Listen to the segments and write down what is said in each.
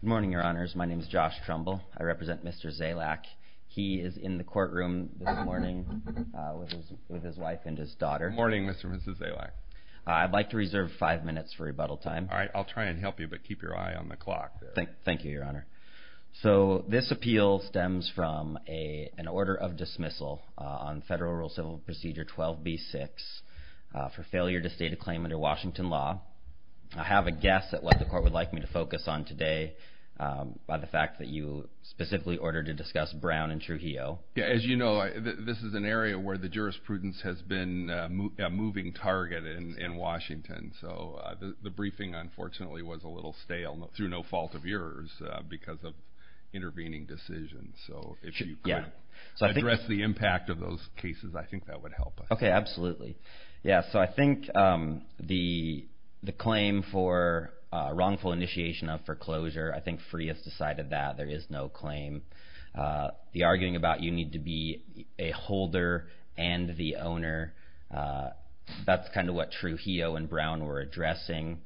Good morning, your honors. My name is Josh Trumbull. I represent Mr. Zalac. He is in the courtroom this morning with his wife and his daughter. Good morning, Mr. and Mrs. Zalac. I'd like to reserve five minutes for rebuttal time. All right. I'll try and help you, but keep your eye on the clock. Thank you, your honor. So this appeal stems from an order of dismissal on Federal Rule Civil Procedure 12b-6 for failure to state a claim under Washington law. I have a guess at what the court would like me to focus on today by the fact that you specifically ordered to discuss Brown and Trujillo. As you know, this is an area where the jurisprudence has been a moving target in Washington. So the briefing, unfortunately, was a little stale through no fault of yours because of intervening decisions. So if you could address the impact of those cases, I think that would help. Okay, absolutely. Yeah, so I think the claim for wrongful initiation of foreclosure, I think Freeh has decided that there is no claim. The arguing about you need to be a holder and the owner, that's kind of what Trujillo and Brown were addressing.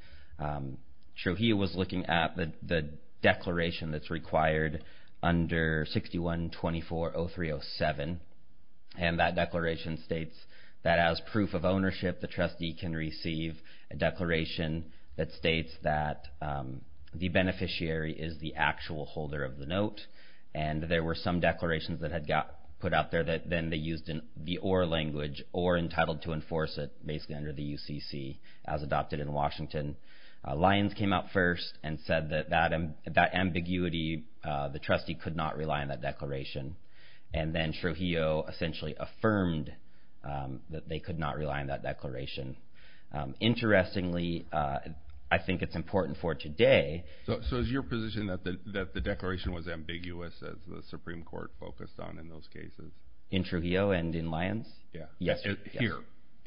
Trujillo was looking at the declaration that's required under 6124-0307, and that declaration states that as proof of ownership, the trustee can receive a declaration that states that the beneficiary is the actual holder of the note. And there were some declarations that had got put out there that then they used the or language, or entitled to enforce it basically under the UCC as adopted in Washington. Lyons came out first and said that that ambiguity, the trustee could not rely on that declaration. And then Trujillo essentially affirmed that they could not rely on that declaration. Interestingly, I think it's important for today. So is your position that the declaration was ambiguous as the Supreme Court focused on in those cases? In Trujillo and in Lyons? Yes. Here.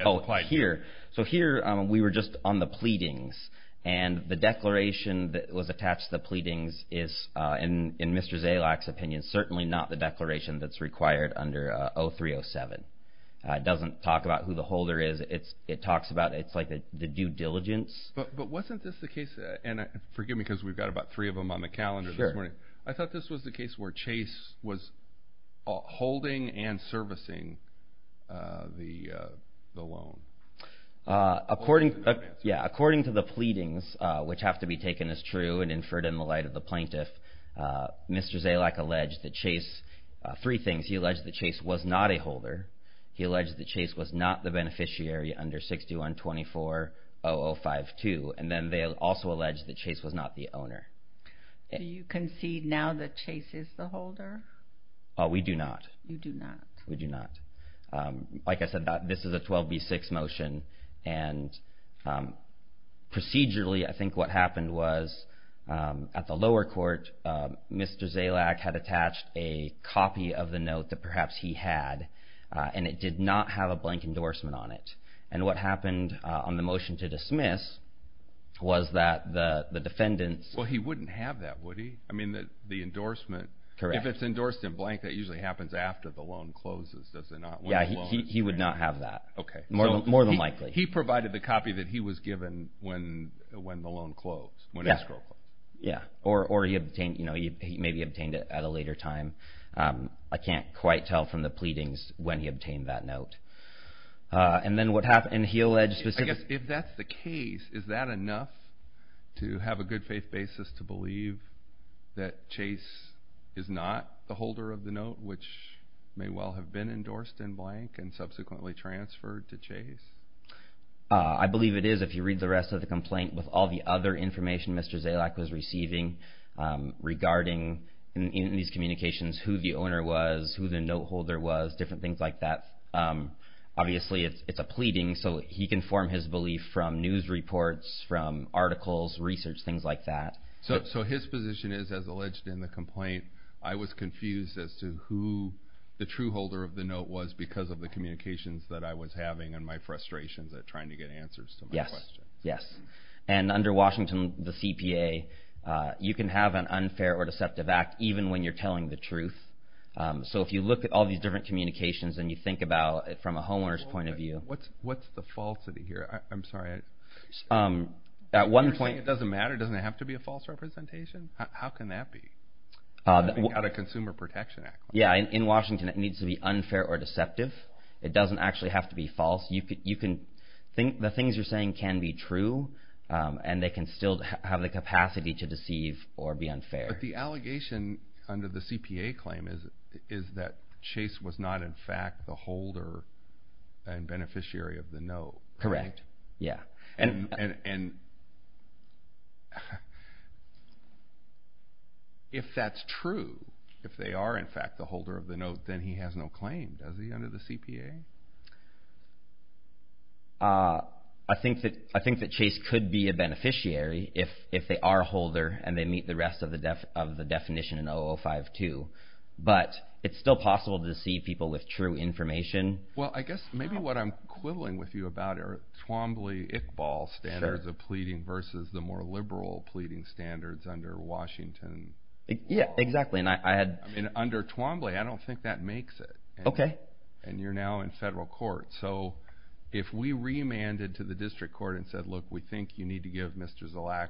Oh, here. So here we were just on the pleadings. And the declaration that was attached to the pleadings is, in Mr. Zalak's opinion, certainly not the declaration that's required under 0307. It doesn't talk about who the holder is. It talks about, it's like the due diligence. But wasn't this the case, and forgive me because we've got about three of them on the calendar this morning. Sure. I thought this was the case where Chase was holding and servicing the loan. According to the pleadings, which have to be taken as true and inferred in the light of the plaintiff, Mr. Zalak alleged that Chase, three things, he alleged that Chase was not a holder. He alleged that Chase was not the beneficiary under 61240052. And then they also alleged that Chase was not the owner. Do you concede now that Chase is the holder? We do not. You do not. We do not. Like I said, this is a 12B6 motion. And procedurally, I think what happened was at the lower court, Mr. Zalak had attached a copy of the note that perhaps he had, and it did not have a blank endorsement on it. And what happened on the motion to dismiss was that the defendants. Well, he wouldn't have that, would he? I mean, the endorsement. Correct. If it's endorsed in blank, that usually happens after the loan closes, does it not? Yeah, he would not have that. Okay. More than likely. He provided the copy that he was given when the loan closed, when escrow closed. Yeah. Or he maybe obtained it at a later time. I can't quite tell from the pleadings when he obtained that note. And then what happened? I guess if that's the case, is that enough to have a good faith basis to believe that Chase is not the holder of the note, I believe it is, if you read the rest of the complaint, with all the other information Mr. Zalak was receiving regarding, in these communications, who the owner was, who the note holder was, different things like that. Obviously, it's a pleading, so he can form his belief from news reports, from articles, research, things like that. So his position is, as alleged in the complaint, I was confused as to who the true holder of the note was because of the communications that I was having and my frustrations at trying to get answers to my questions. Yes. And under Washington, the CPA, you can have an unfair or deceptive act even when you're telling the truth. So if you look at all these different communications and you think about it from a homeowner's point of view. What's the falsity here? I'm sorry. At one point. You're saying it doesn't matter, it doesn't have to be a false representation? How can that be? Without a Consumer Protection Act. Yes, in Washington, it needs to be unfair or deceptive. It doesn't actually have to be false. The things you're saying can be true and they can still have the capacity to deceive or be unfair. But the allegation under the CPA claim is that Chase was not in fact the holder and beneficiary of the note. Correct. Yes. And if that's true, if they are in fact the holder of the note, then he has no claim, does he, under the CPA? I think that Chase could be a beneficiary if they are a holder and they meet the rest of the definition in 0052. But it's still possible to deceive people with true information. Well, I guess maybe what I'm quibbling with you about are Twombly-Iqbal standards of pleading versus the more liberal pleading standards under Washington. Yes, exactly. Under Twombly, I don't think that makes it. Okay. And you're now in federal court. So if we remanded to the district court and said, look, we think you need to give Mr. Zalack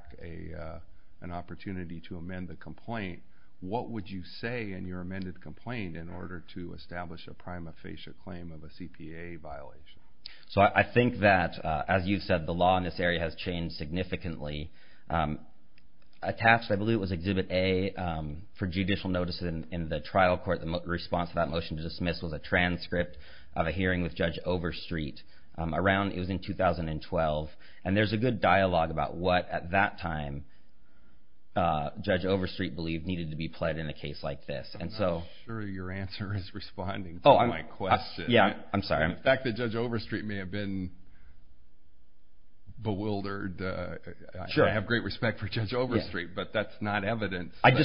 an opportunity to amend the complaint, what would you say in your amended complaint in order to establish a prima facie claim of a CPA violation? So I think that, as you said, the law in this area has changed significantly. Attached, I believe, was Exhibit A for judicial notice in the trial court. The response to that motion to dismiss was a transcript of a hearing with Judge Overstreet. It was in 2012. And there's a good dialogue about what, at that time, Judge Overstreet believed needed to be pled in a case like this. I'm not sure your answer is responding to my question. Yeah, I'm sorry. The fact that Judge Overstreet may have been bewildered, I have great respect for Judge Overstreet, but that's not evidence. I agree.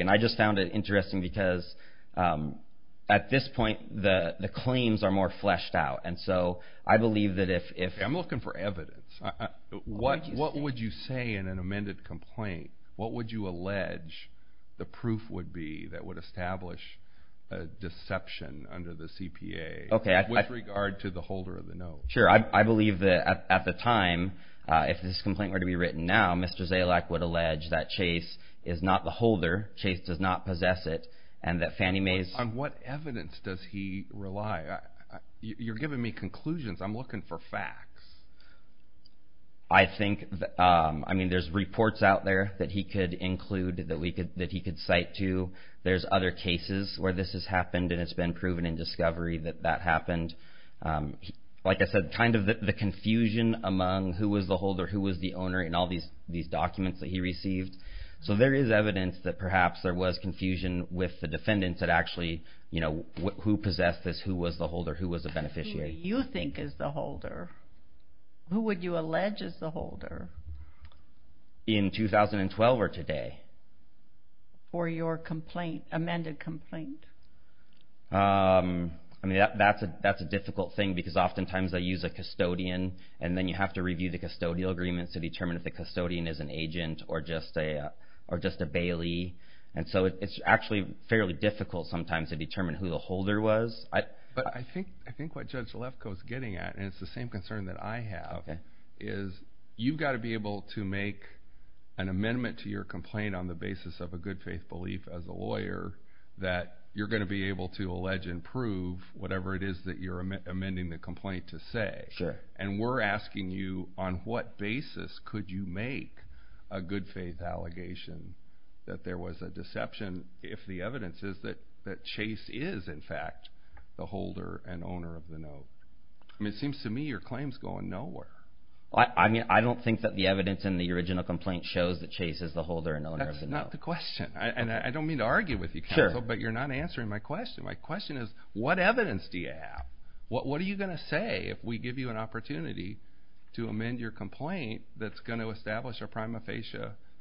And I just found it interesting because, at this point, the claims are more fleshed out. And so I believe that if – I'm looking for evidence. What would you say in an amended complaint? What would you allege the proof would be that would establish a deception under the CPA with regard to the holder of the note? Sure. I believe that, at the time, if this complaint were to be written now, Mr. Zalek would allege that Chase is not the holder, Chase does not possess it, and that Fannie Mae's – On what evidence does he rely? You're giving me conclusions. I'm looking for facts. I think – I mean, there's reports out there that he could include, that he could cite to. There's other cases where this has happened, and it's been proven in discovery that that happened. Like I said, kind of the confusion among who was the holder, who was the owner, and all these documents that he received. So there is evidence that perhaps there was confusion with the defendants that actually, you know, who possessed this, who was the holder, who was the beneficiary. Who do you think is the holder? Who would you allege is the holder? In 2012 or today. For your complaint, amended complaint? I mean, that's a difficult thing because oftentimes they use a custodian, and then you have to review the custodial agreements to determine if the custodian is an agent or just a bailee. And so it's actually fairly difficult sometimes to determine who the holder was. But I think what Judge Lefkoe is getting at, and it's the same concern that I have, is you've got to be able to make an amendment to your complaint on the basis of a good faith belief as a lawyer, that you're going to be able to allege and prove whatever it is that you're amending the complaint to say. Sure. And we're asking you, on what basis could you make a good faith allegation that there was a deception if the evidence is that Chase is, in fact, the holder and owner of the note? I mean, it seems to me your claim is going nowhere. I mean, I don't think that the evidence in the original complaint shows that Chase is the holder and owner of the note. That's not the question. And I don't mean to argue with you, counsel, but you're not answering my question. My question is, what evidence do you have? What are you going to say if we give you an opportunity to amend your complaint that's going to establish a prima facie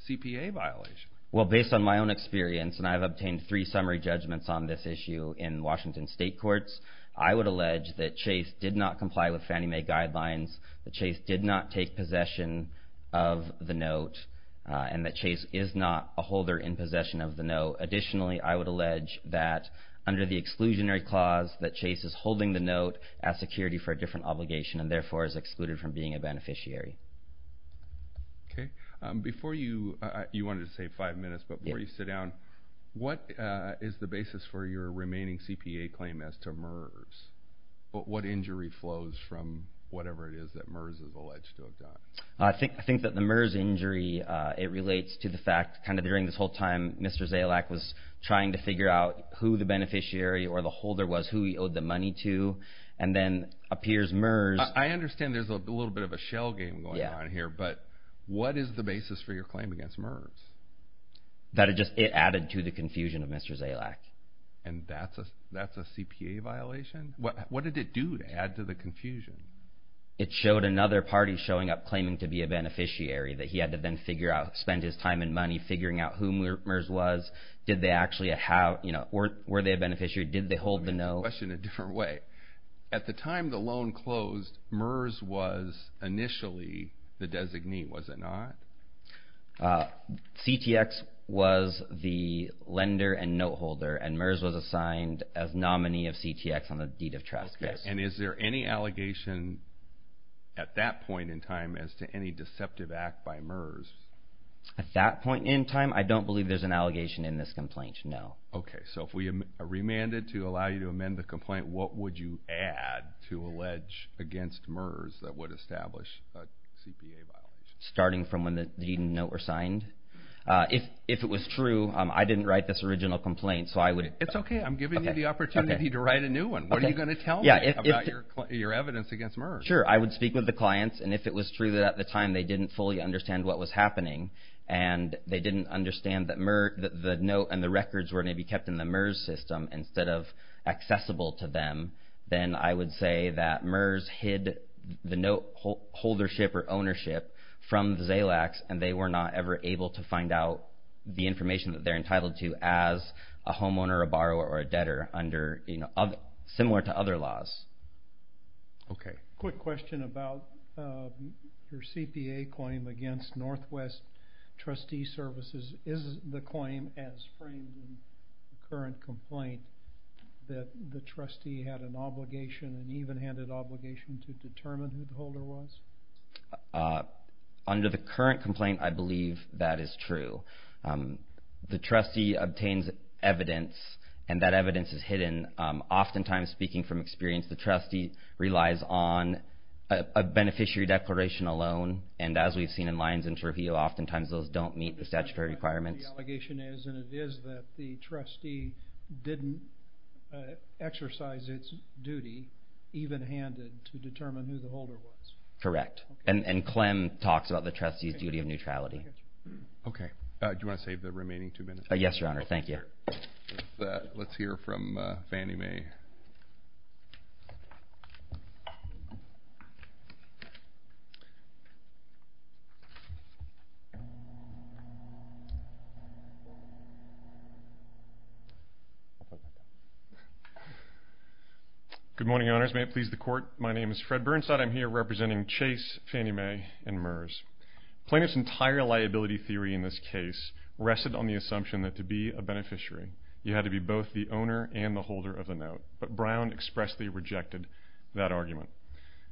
CPA violation? Well, based on my own experience, and I've obtained three summary judgments on this issue in Washington state courts, I would allege that Chase did not comply with Fannie Mae guidelines, that Chase did not take possession of the note, and that Chase is not a holder in possession of the note. So additionally, I would allege that under the exclusionary clause that Chase is holding the note as security for a different obligation and therefore is excluded from being a beneficiary. Okay. Before you, you wanted to say five minutes, but before you sit down, what is the basis for your remaining CPA claim as to MERS? What injury flows from whatever it is that MERS is alleged to have done? I think that the MERS injury, it relates to the fact kind of during this whole time Mr. Zalack was trying to figure out who the beneficiary or the holder was, who he owed the money to, and then appears MERS. I understand there's a little bit of a shell game going on here, but what is the basis for your claim against MERS? That it just, it added to the confusion of Mr. Zalack. And that's a CPA violation? It showed another party showing up claiming to be a beneficiary that he had to then figure out, spend his time and money figuring out who MERS was. Did they actually, were they a beneficiary? Did they hold the note? Okay, question a different way. At the time the loan closed, MERS was initially the designee, was it not? CTX was the lender and note holder, and MERS was assigned as nominee of CTX on the deed of trust. And is there any allegation at that point in time as to any deceptive act by MERS? At that point in time, I don't believe there's an allegation in this complaint, no. Okay, so if we remanded to allow you to amend the complaint, what would you add to allege against MERS that would establish a CPA violation? Starting from when the deed and note were signed. If it was true, I didn't write this original complaint, so I would... It's okay, I'm giving you the opportunity to write a new one. What are you going to tell me about your evidence against MERS? Sure, I would speak with the clients, and if it was true that at the time they didn't fully understand what was happening, and they didn't understand that the note and the records were going to be kept in the MERS system instead of accessible to them, then I would say that MERS hid the note holdership or ownership from Zalax, and they were not ever able to find out the information that they're entitled to as a homeowner, a borrower, or a debtor, similar to other laws. Okay. Quick question about your CPA claim against Northwest Trustee Services. Is the claim as framed in the current complaint that the trustee had an obligation, an even-handed obligation, to determine who the holder was? Under the current complaint, I believe that is true. The trustee obtains evidence, and that evidence is hidden. Oftentimes, speaking from experience, the trustee relies on a beneficiary declaration alone, and as we've seen in Lyons and Trujillo, oftentimes those don't meet the statutory requirements. And it is that the trustee didn't exercise its duty, even-handed, to determine who the holder was. Correct. And Clem talks about the trustee's duty of neutrality. Okay. Do you want to save the remaining two minutes? Yes, Your Honor. Thank you. Let's hear from Fannie Mae. Good morning, Your Honors. May it please the Court, my name is Fred Burnside. I'm here representing Chase, Fannie Mae, and Murs. Plaintiff's entire liability theory in this case rested on the assumption that to be a beneficiary, you had to be both the owner and the holder of the note. But Brown expressly rejected that argument,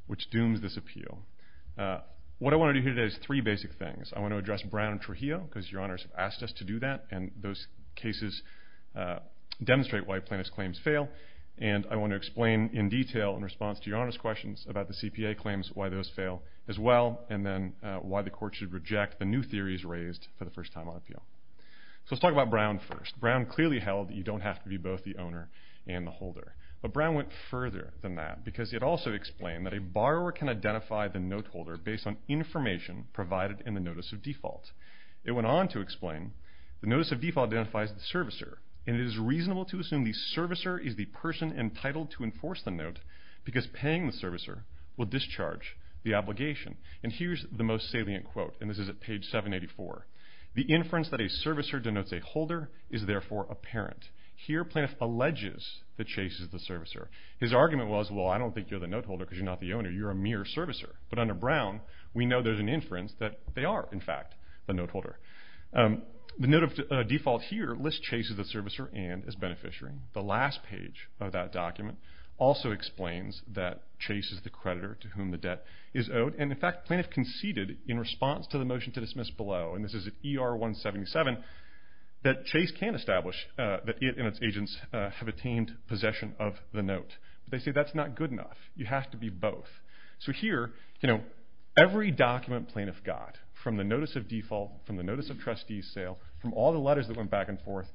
which dooms this appeal. What I want to do here today is three basic things. I want to address Brown and Trujillo, because Your Honors asked us to do that, and those cases demonstrate why plaintiff's claims fail. And I want to explain in detail, in response to Your Honors' questions about the CPA claims, why those fail as well, and then why the Court should reject the new theories raised for the first time on appeal. So let's talk about Brown first. Brown clearly held that you don't have to be both the owner and the holder. But Brown went further than that, because it also explained that a borrower can identify the note holder based on information provided in the notice of default. It went on to explain, the notice of default identifies the servicer, and it is reasonable to assume the servicer is the person entitled to enforce the note, because paying the servicer will discharge the obligation. And here's the most salient quote, and this is at page 784. The inference that a servicer denotes a holder is therefore apparent. Here plaintiff alleges that Chase is the servicer. His argument was, well, I don't think you're the note holder, because you're not the owner. You're a mere servicer. But under Brown, we know there's an inference that they are, in fact, the note holder. The note of default here lists Chase as the servicer and as beneficiary. The last page of that document also explains that Chase is the creditor to whom the debt is owed. And, in fact, plaintiff conceded in response to the motion to dismiss below, and this is at ER 177, that Chase can establish that it and its agents have attained possession of the note. They say that's not good enough. You have to be both. So here, you know, every document plaintiff got from the notice of default, from the notice of trustees sale, from all the letters that went back and forth,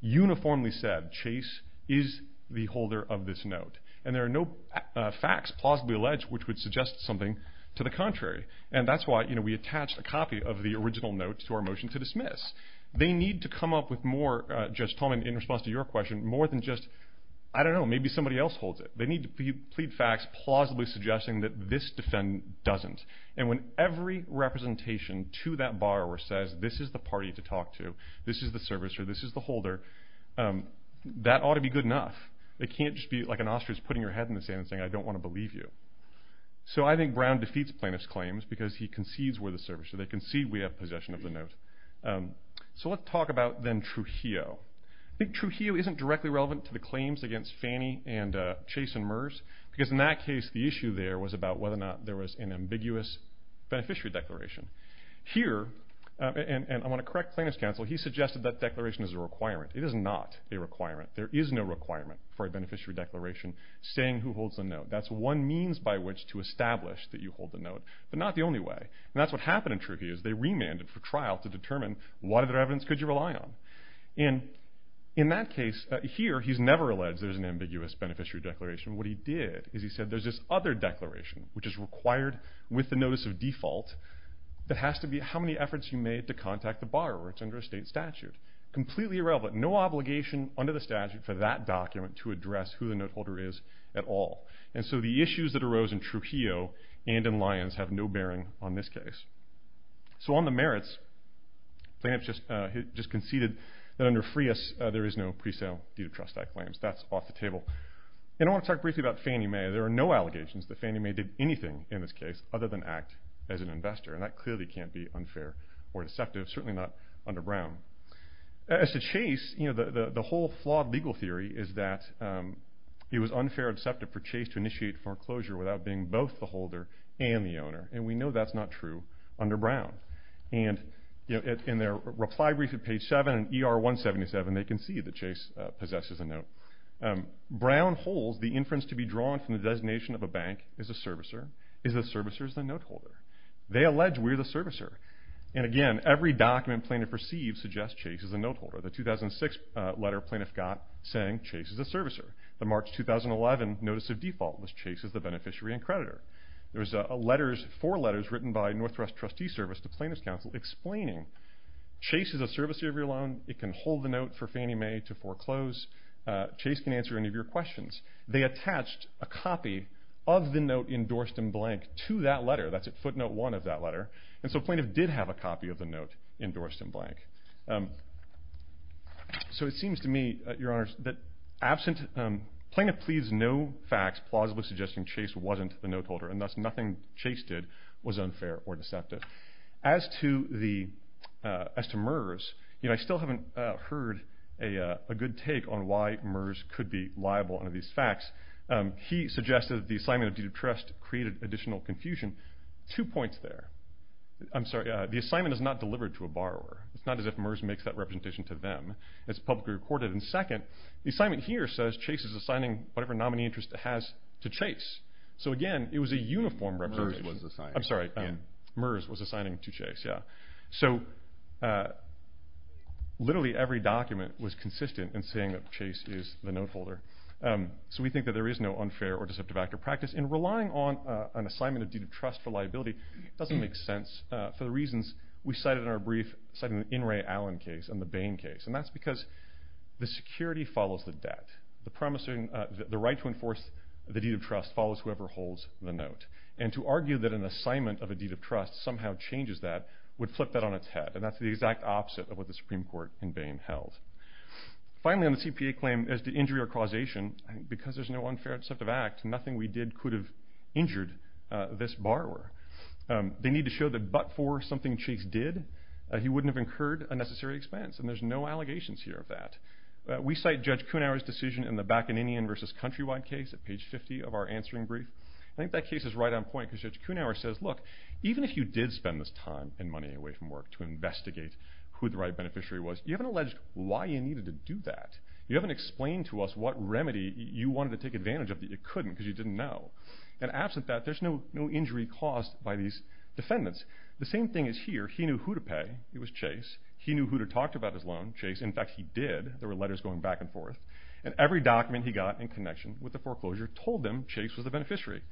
uniformly said Chase is the holder of this note. And there are no facts plausibly alleged which would suggest something to the contrary. And that's why, you know, we attached a copy of the original note to our motion to dismiss. They need to come up with more, Judge Tolman, in response to your question, more than just, I don't know, maybe somebody else holds it. They need to plead facts plausibly suggesting that this defendant doesn't. And when every representation to that borrower says this is the party to talk to, this is the servicer, this is the holder, that ought to be good enough. It can't just be like an ostrich putting your head in the sand and saying I don't want to believe you. So I think Brown defeats plaintiff's claims because he concedes we're the servicer. They concede we have possession of the note. So let's talk about then Trujillo. I think Trujillo isn't directly relevant to the claims against Fannie and Chase and Murs because in that case the issue there was about whether or not there was an ambiguous beneficiary declaration. Here, and I want to correct plaintiff's counsel, he suggested that declaration is a requirement. It is not a requirement. There is no requirement for a beneficiary declaration saying who holds the note. That's one means by which to establish that you hold the note, but not the only way. And that's what happened in Trujillo is they remanded for trial to determine what other evidence could you rely on. And in that case, here he's never alleged there's an ambiguous beneficiary declaration. What he did is he said there's this other declaration which is required with the notice of default that has to be how many efforts you made to contact the borrower. It's under a state statute. Completely irrelevant. No obligation under the statute for that document to address who the note holder is at all. And so the issues that arose in Trujillo and in Lyons have no bearing on this case. So on the merits, plaintiff just conceded that under Frias there is no presale due to trust I claims. That's off the table. And I want to talk briefly about Fannie Mae. There are no allegations that Fannie Mae did anything in this case other than act as an investor. And that clearly can't be unfair or deceptive, certainly not under Brown. As to Chase, the whole flawed legal theory is that it was unfair or deceptive for Chase to initiate foreclosure without being both the holder and the owner. And we know that's not true under Brown. And in their reply brief at page 7 in ER 177, they concede that Chase possesses a note. Brown holds the inference to be drawn from the designation of a bank as a servicer is the servicer is the note holder. They allege we're the servicer. And again, every document plaintiff receives suggests Chase is the note holder. The 2006 letter plaintiff got saying Chase is the servicer. The March 2011 notice of default was Chase is the beneficiary and creditor. There were four letters written by Northwest Trustee Service to plaintiff's counsel explaining Chase is a servicer of your loan. It can hold the note for Fannie Mae to foreclose. Chase can answer any of your questions. They attached a copy of the note endorsed in blank to that letter. That's at footnote 1 of that letter. And so plaintiff did have a copy of the note endorsed in blank. So it seems to me, Your Honors, that absent, plaintiff pleads no facts plausibly suggesting Chase wasn't the note holder. And thus nothing Chase did was unfair or deceptive. As to MERS, I still haven't heard a good take on why MERS could be liable under these facts. He suggested the assignment of deed of trust created additional confusion. Two points there. I'm sorry, the assignment is not delivered to a borrower. It's not as if MERS makes that representation to them. It's publicly recorded. And second, the assignment here says Chase is assigning whatever nominee interest it has to Chase. So, again, it was a uniform representation. MERS was assigned. I'm sorry. MERS was assigning to Chase, yeah. So literally every document was consistent in saying that Chase is the note holder. So we think that there is no unfair or deceptive actor practice. And relying on an assignment of deed of trust for liability doesn't make sense for the reasons we cited in our brief. We cited the In re Allen case and the Bain case. And that's because the security follows the debt. The right to enforce the deed of trust follows whoever holds the note. And to argue that an assignment of a deed of trust somehow changes that would flip that on its head. And that's the exact opposite of what the Supreme Court in Bain held. Finally, on the CPA claim as to injury or causation, because there's no unfair or deceptive act, nothing we did could have injured this borrower. They need to show that but for something Chase did, he wouldn't have incurred a necessary expense. And there's no allegations here of that. We cite Judge Kuhnhauer's decision in the Bacchanin versus Countrywide case at page 50 of our answering brief. I think that case is right on point because Judge Kuhnhauer says, look, even if you did spend this time and money away from work to investigate who the right beneficiary was, you haven't alleged why you needed to do that. You haven't explained to us what remedy you wanted to take advantage of that you couldn't because you didn't know. And absent that, there's no injury caused by these defendants. The same thing is here. He knew who to pay. It was Chase. He knew who to talk to about his loan, Chase. In fact, he did. There were letters going back and forth. And every document he got in connection with the foreclosure told him Chase was the beneficiary.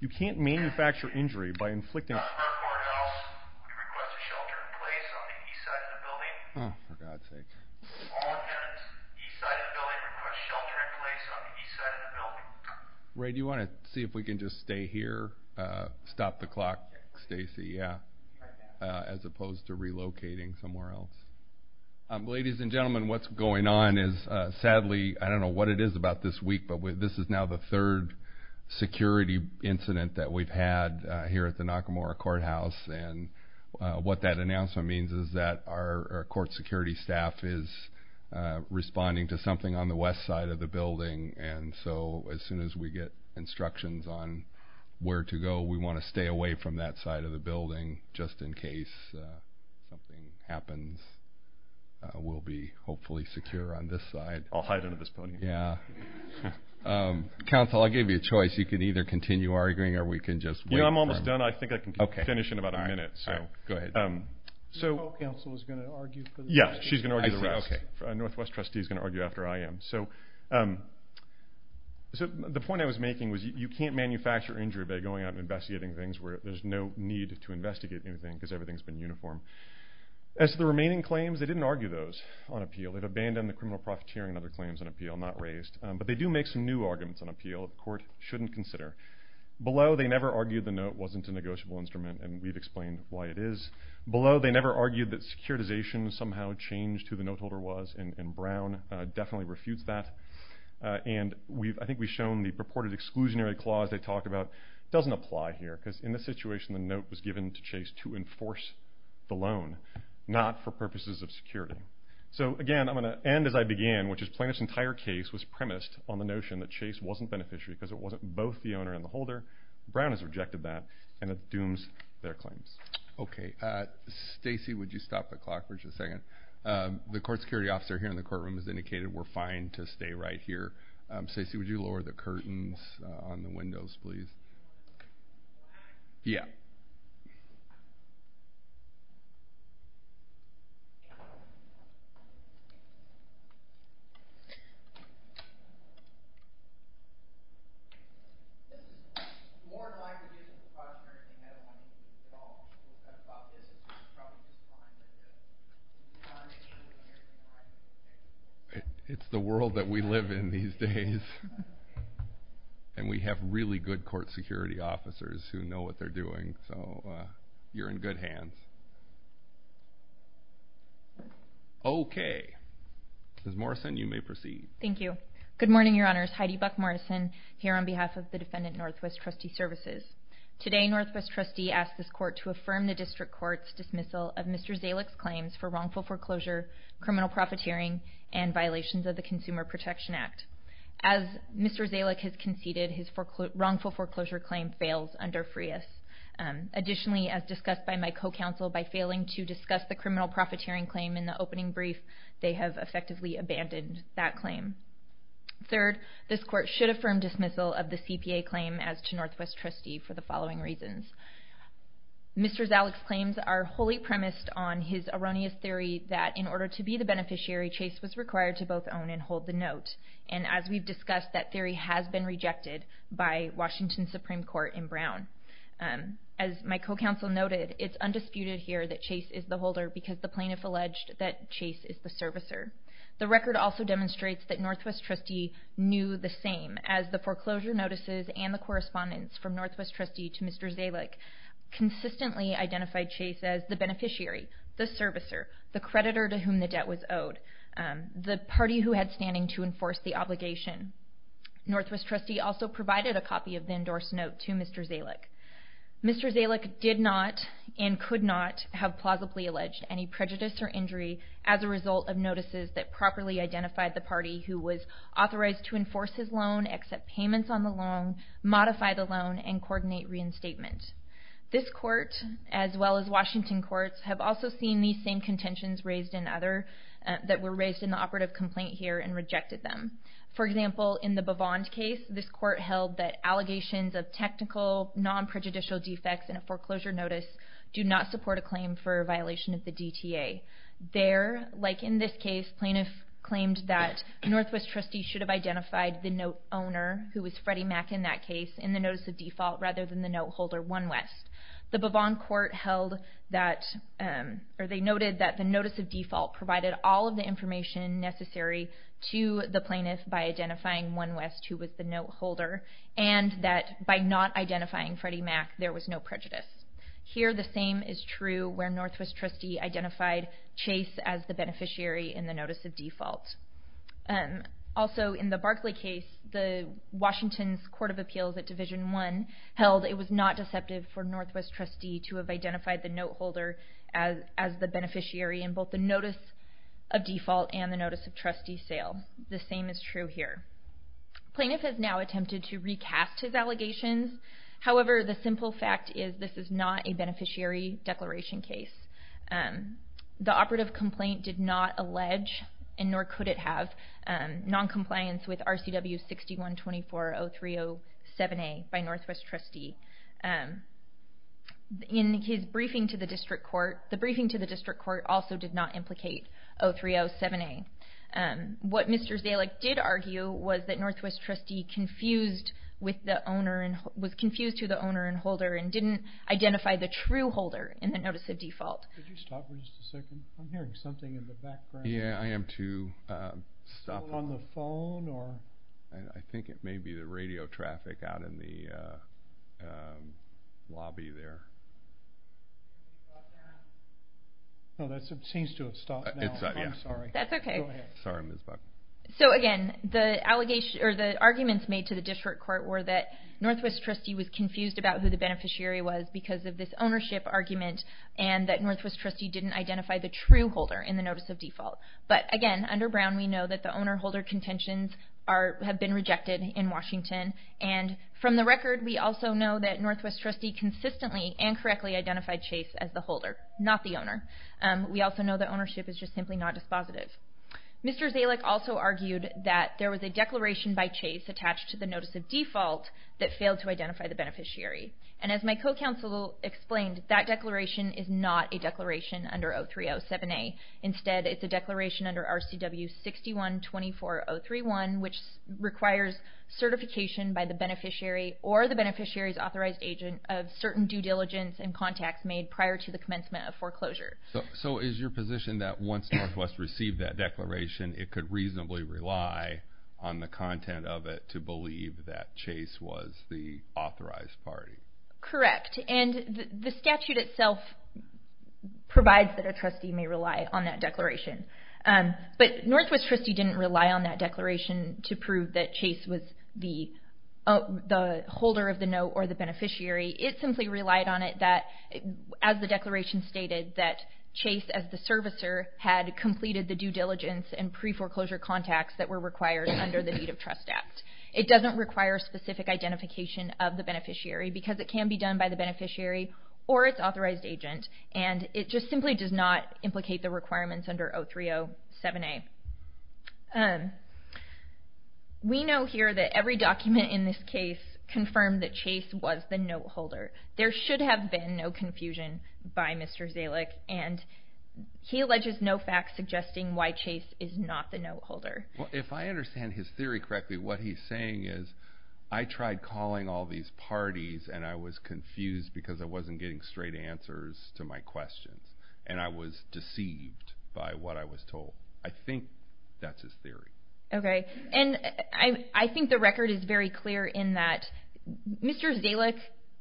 You can't manufacture injury by inflicting- We request a shelter in place on the east side of the building. Oh, for God's sake. All attendants, east side of the building, request shelter in place on the east side of the building. Ray, do you want to see if we can just stay here, stop the clock? Stacey, yeah, as opposed to relocating somewhere else. Ladies and gentlemen, what's going on is, sadly, I don't know what it is about this week, but this is now the third security incident that we've had here at the Nakamura Courthouse. And what that announcement means is that our court security staff is responding to something on the west side of the building. And so as soon as we get instructions on where to go, we want to stay away from that side of the building, just in case something happens. We'll be hopefully secure on this side. I'll hide under this podium. Yeah. Counsel, I'll give you a choice. You can either continue arguing, or we can just wait for- You know, I'm almost done. I think I can finish in about a minute. All right. Go ahead. So- So counsel is going to argue for the- Yeah, she's going to argue the rest. I see. Okay. All right. So the northwest trustee is going to argue after I am. So the point I was making was you can't manufacture injury by going out and investigating things where there's no need to investigate anything because everything's been uniform. As to the remaining claims, they didn't argue those on appeal. They've abandoned the criminal profiteering and other claims on appeal, not raised. But they do make some new arguments on appeal that the court shouldn't consider. Below, they never argued the note wasn't a negotiable instrument, and we've explained why it is. Below, they never argued that securitization somehow changed who the note holder was, and Brown definitely refutes that. And I think we've shown the purported exclusionary clause they talked about doesn't apply here because in this situation, the note was given to Chase to enforce the loan, not for purposes of security. So, again, I'm going to end as I began, which is Plaintiff's entire case was premised on the notion that Chase wasn't beneficiary because it wasn't both the owner and the holder. Brown has rejected that, and it dooms their claims. Okay. Stacey, would you stop the clock for just a second? The court security officer here in the courtroom has indicated we're fine to stay right here. Stacey, would you lower the curtains on the windows, please? Yeah. Okay. It's the world that we live in these days, and we have really good court security officers who know what they're doing, so you're in good hands. Okay. Ms. Morrison, you may proceed. Thank you. Good morning, Your Honors. Heidi Buck-Morrison here on behalf of the defendant, Northwest Trustee Services. Today, Northwest Trustee asked this court to affirm the district court's dismissal of Mr. Zalek's claims for wrongful foreclosure, criminal profiteering, and violations of the Consumer Protection Act. As Mr. Zalek has conceded, his wrongful foreclosure claim fails under FREIS. Additionally, as discussed by my co-counsel, by failing to discuss the criminal profiteering claim in the opening brief, they have effectively abandoned that claim. Third, this court should affirm dismissal of the CPA claim as to Northwest Trustee for the following reasons. Mr. Zalek's claims are wholly premised on his erroneous theory that in order to be the beneficiary, Chase was required to both own and hold the note, and as we've discussed, that theory has been rejected by Washington Supreme Court in Brown. As my co-counsel noted, it's undisputed here that Chase is the holder because the plaintiff alleged that Chase is the servicer. The record also demonstrates that Northwest Trustee knew the same, as the foreclosure notices and the correspondence from Northwest Trustee to Mr. Zalek consistently identified Chase as the beneficiary, the servicer, the creditor to whom the debt was owed, the party who had standing to enforce the obligation. Northwest Trustee also provided a copy of the endorsed note to Mr. Zalek. Mr. Zalek did not and could not have plausibly alleged any prejudice or injury as a result of notices that properly identified the party who was authorized to enforce his loan, accept payments on the loan, modify the loan, and coordinate reinstatement. This court, as well as Washington courts, have also seen these same contentions raised in other... that were raised in the operative complaint here and rejected them. For example, in the Bovond case, this court held that allegations of technical, non-prejudicial defects in a foreclosure notice do not support a claim for violation of the DTA. There, like in this case, plaintiff claimed that Northwest Trustee should have identified the note owner, who was Freddie Mac in that case, in the notice of default rather than the note holder, OneWest. The Bovond court held that... or they noted that the notice of default provided all of the information necessary to the plaintiff by identifying OneWest, who was the note holder, and that by not identifying Freddie Mac, there was no prejudice. Here, the same is true where Northwest Trustee identified Chase as the beneficiary in the notice of default. Also, in the Barkley case, Washington's Court of Appeals at Division I held it was not deceptive for Northwest Trustee to have identified the note holder as the beneficiary in both the notice of default and the notice of trustee sale. The same is true here. Plaintiff has now attempted to recast his allegations. However, the simple fact is this is not a beneficiary declaration case. The operative complaint did not allege, and nor could it have, noncompliance with RCW 6124-0307A by Northwest Trustee. In his briefing to the district court, the briefing to the district court also did not implicate 0307A. What Mr. Zalek did argue was that Northwest Trustee was confused to the owner and holder and didn't identify the true holder in the notice of default. So again, the arguments made to the district court were that the beneficiary was because of this ownership argument and that Northwest Trustee didn't identify the true holder in the notice of default. But again, under Brown, we know that the owner-holder contentions have been rejected in Washington. And from the record, we also know that Northwest Trustee consistently and correctly identified Chase as the holder, not the owner. We also know that ownership is just simply not dispositive. Mr. Zalek also argued that there was a declaration by Chase attached to the notice of default that failed to identify the beneficiary. And as my co-counsel explained, that declaration is not a declaration under 0307A. Instead, it's a declaration under RCW 6124-031, which requires certification by the beneficiary or the beneficiary's authorized agent of certain due diligence and contacts made prior to the commencement of foreclosure. So is your position that once Northwest received that declaration, it could reasonably rely on the content of it to believe that Chase was the authorized party? Correct. And the statute itself provides that a trustee may rely on that declaration. But Northwest Trustee didn't rely on that declaration to prove that Chase was the holder of the note or the beneficiary. It simply relied on it that, as the declaration stated, that Chase, as the servicer, had completed the due diligence and pre-foreclosure contacts that were required under the Need of Trust Act. It doesn't require specific identification of the beneficiary because it can be done by the beneficiary or its authorized agent, and it just simply does not implicate the requirements under 0307A. We know here that every document in this case confirmed that Chase was the note holder. There should have been no confusion by Mr. Zalick, and he alleges no facts suggesting why Chase is not the note holder. Well, if I understand his theory correctly, what he's saying is, I tried calling all these parties and I was confused because I wasn't getting straight answers to my questions, and I was deceived by what I was told. I think that's his theory. Okay. And I think the record is very clear in that Mr. Zalick,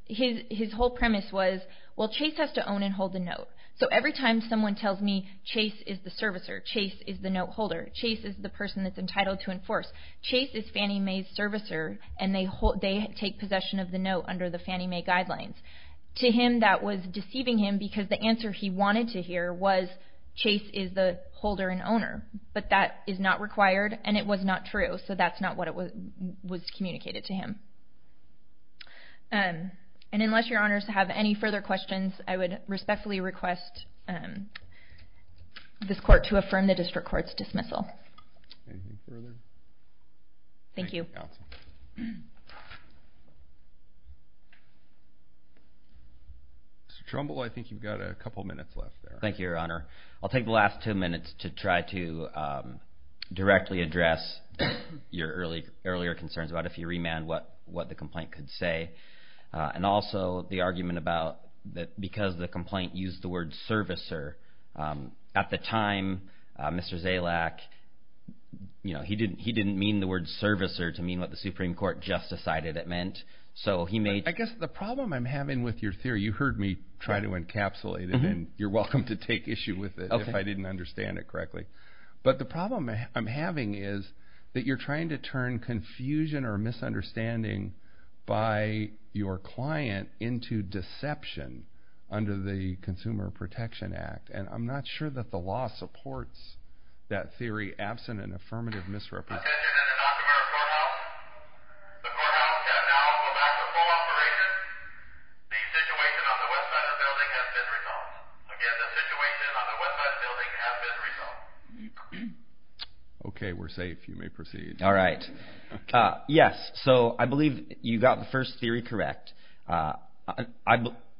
his whole premise was, well, Chase has to own and hold the note. So every time someone tells me Chase is the servicer, Chase is the note holder, Chase is the person that's entitled to enforce, Chase is Fannie Mae's servicer, and they take possession of the note under the Fannie Mae guidelines. To him, that was deceiving him because the answer he wanted to hear was, Chase is the holder and owner, but that is not required and it was not true, so that's not what was communicated to him. And unless your honors have any further questions, I would respectfully request this court to affirm the district court's dismissal. Anything further? Thank you. Mr. Trumbull, I think you've got a couple minutes left there. Thank you, your honor. I'll take the last two minutes to try to directly address your earlier concerns about if you remand what the complaint could say, and also the argument about that because the complaint used the word servicer, at the time, Mr. Zalick, he didn't mean the word servicer to mean what the Supreme Court just decided it meant, so he made- I guess the problem I'm having with your theory, you heard me try to encapsulate it, and you're welcome to take issue with it if I didn't understand it correctly, but the problem I'm having is that you're trying to turn confusion or misunderstanding by your client into deception under the Consumer Protection Act, and I'm not sure that the law supports that theory, absent an affirmative misrepresentation. Attention in the Montgomery Courthouse. The courthouse can now go back to full operation. The situation on the west side of the building has been resolved. Again, the situation on the west side of the building has been resolved. Okay, we're safe. You may proceed. All right. Yes, so I believe you got the first theory correct.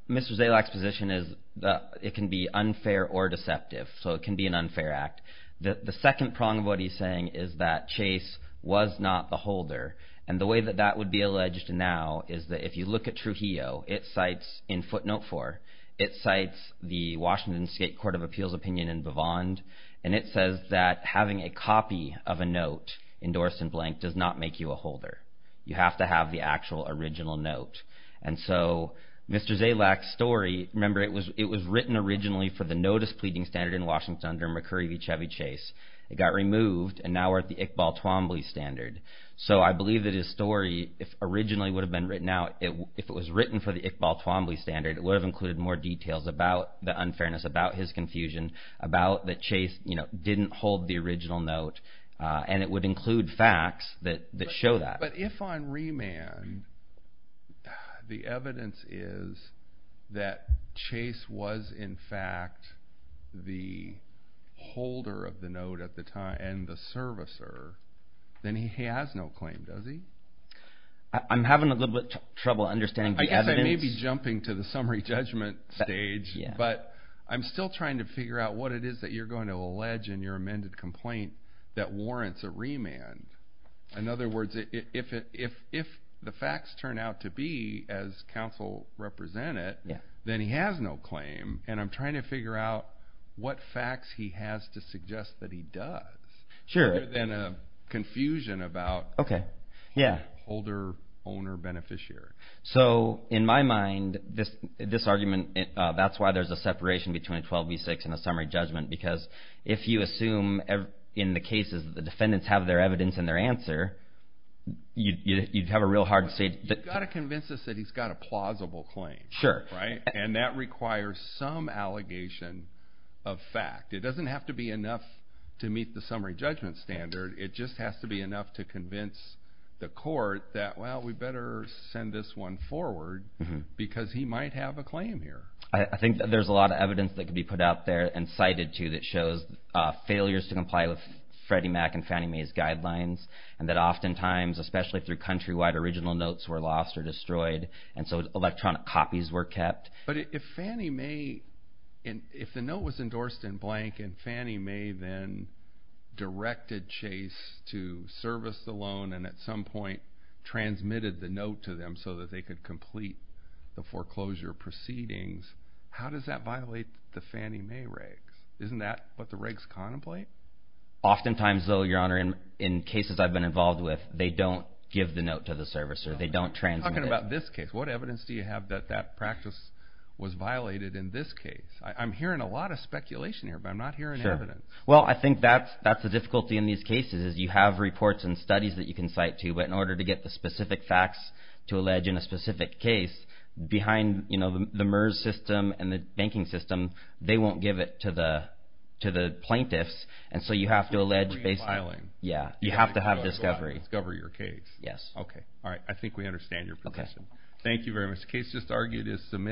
Mr. Zalick's position is that it can be unfair or deceptive, so it can be an unfair act. The second prong of what he's saying is that Chase was not the holder, and the way that that would be alleged now is that if you look at Trujillo, it cites, in footnote 4, it cites the Washington State Court of Appeals opinion in Bavand, and it says that having a copy of a note endorsed in blank does not make you a holder. You have to have the actual original note, and so Mr. Zalick's story, remember it was written originally for the notice pleading standard in Washington under McCurry v. Chevy Chase. It got removed, and now we're at the Iqbal Twombly standard, so I believe that his story, if originally would have been written out, if it was written for the Iqbal Twombly standard, it would have included more details about the unfairness, about his confusion, about that Chase didn't hold the original note, and it would include facts that show that. But if on remand, the evidence is that Chase was in fact the holder of the note at the time, and the servicer, then he has no claim, does he? I'm having a little bit of trouble understanding the evidence. I guess I may be jumping to the summary judgment stage, but I'm still trying to figure out what it is that you're going to allege in your amended complaint that warrants a remand. In other words, if the facts turn out to be as counsel represented, then he has no claim, and I'm trying to figure out what facts he has to suggest that he does, other than a confusion about holder, owner, beneficiary. So in my mind, this argument, that's why there's a separation between 12b-6 and a summary judgment, because if you assume in the cases that the defendants have their evidence and their answer, you'd have a real hard stage. You've got to convince us that he's got a plausible claim. And that requires some allegation of fact. It doesn't have to be enough to meet the summary judgment standard. It just has to be enough to convince the court that, well, we better send this one forward, because he might have a claim here. I think that there's a lot of evidence that can be put out there and cited to that shows failures to comply with Freddie Mac and Fannie Mae's guidelines, and that oftentimes, especially through countrywide original notes, were lost or destroyed, and so electronic copies were kept. But if Fannie Mae, if the note was endorsed in blank and Fannie Mae then directed Chase to service the loan and at some point transmitted the note to them so that they could complete the foreclosure proceedings, how does that violate the Fannie Mae regs? Isn't that what the regs contemplate? Oftentimes, though, Your Honor, in cases I've been involved with, they don't give the note to the servicer. They don't transmit it. You're talking about this case. What evidence do you have that that practice was violated in this case? I'm hearing a lot of speculation here, but I'm not hearing evidence. Well, I think that's the difficulty in these cases is you have reports and studies that you can cite to, but in order to get the specific facts to allege in a specific case, behind the MERS system and the banking system, they won't give it to the plaintiffs, and so you have to allege based on… So it's a free filing. Yeah, you have to have discovery. Discover your case. Yes. Okay. All right. I think we understand your position. Okay. Thank you very much. The case just argued is submitted.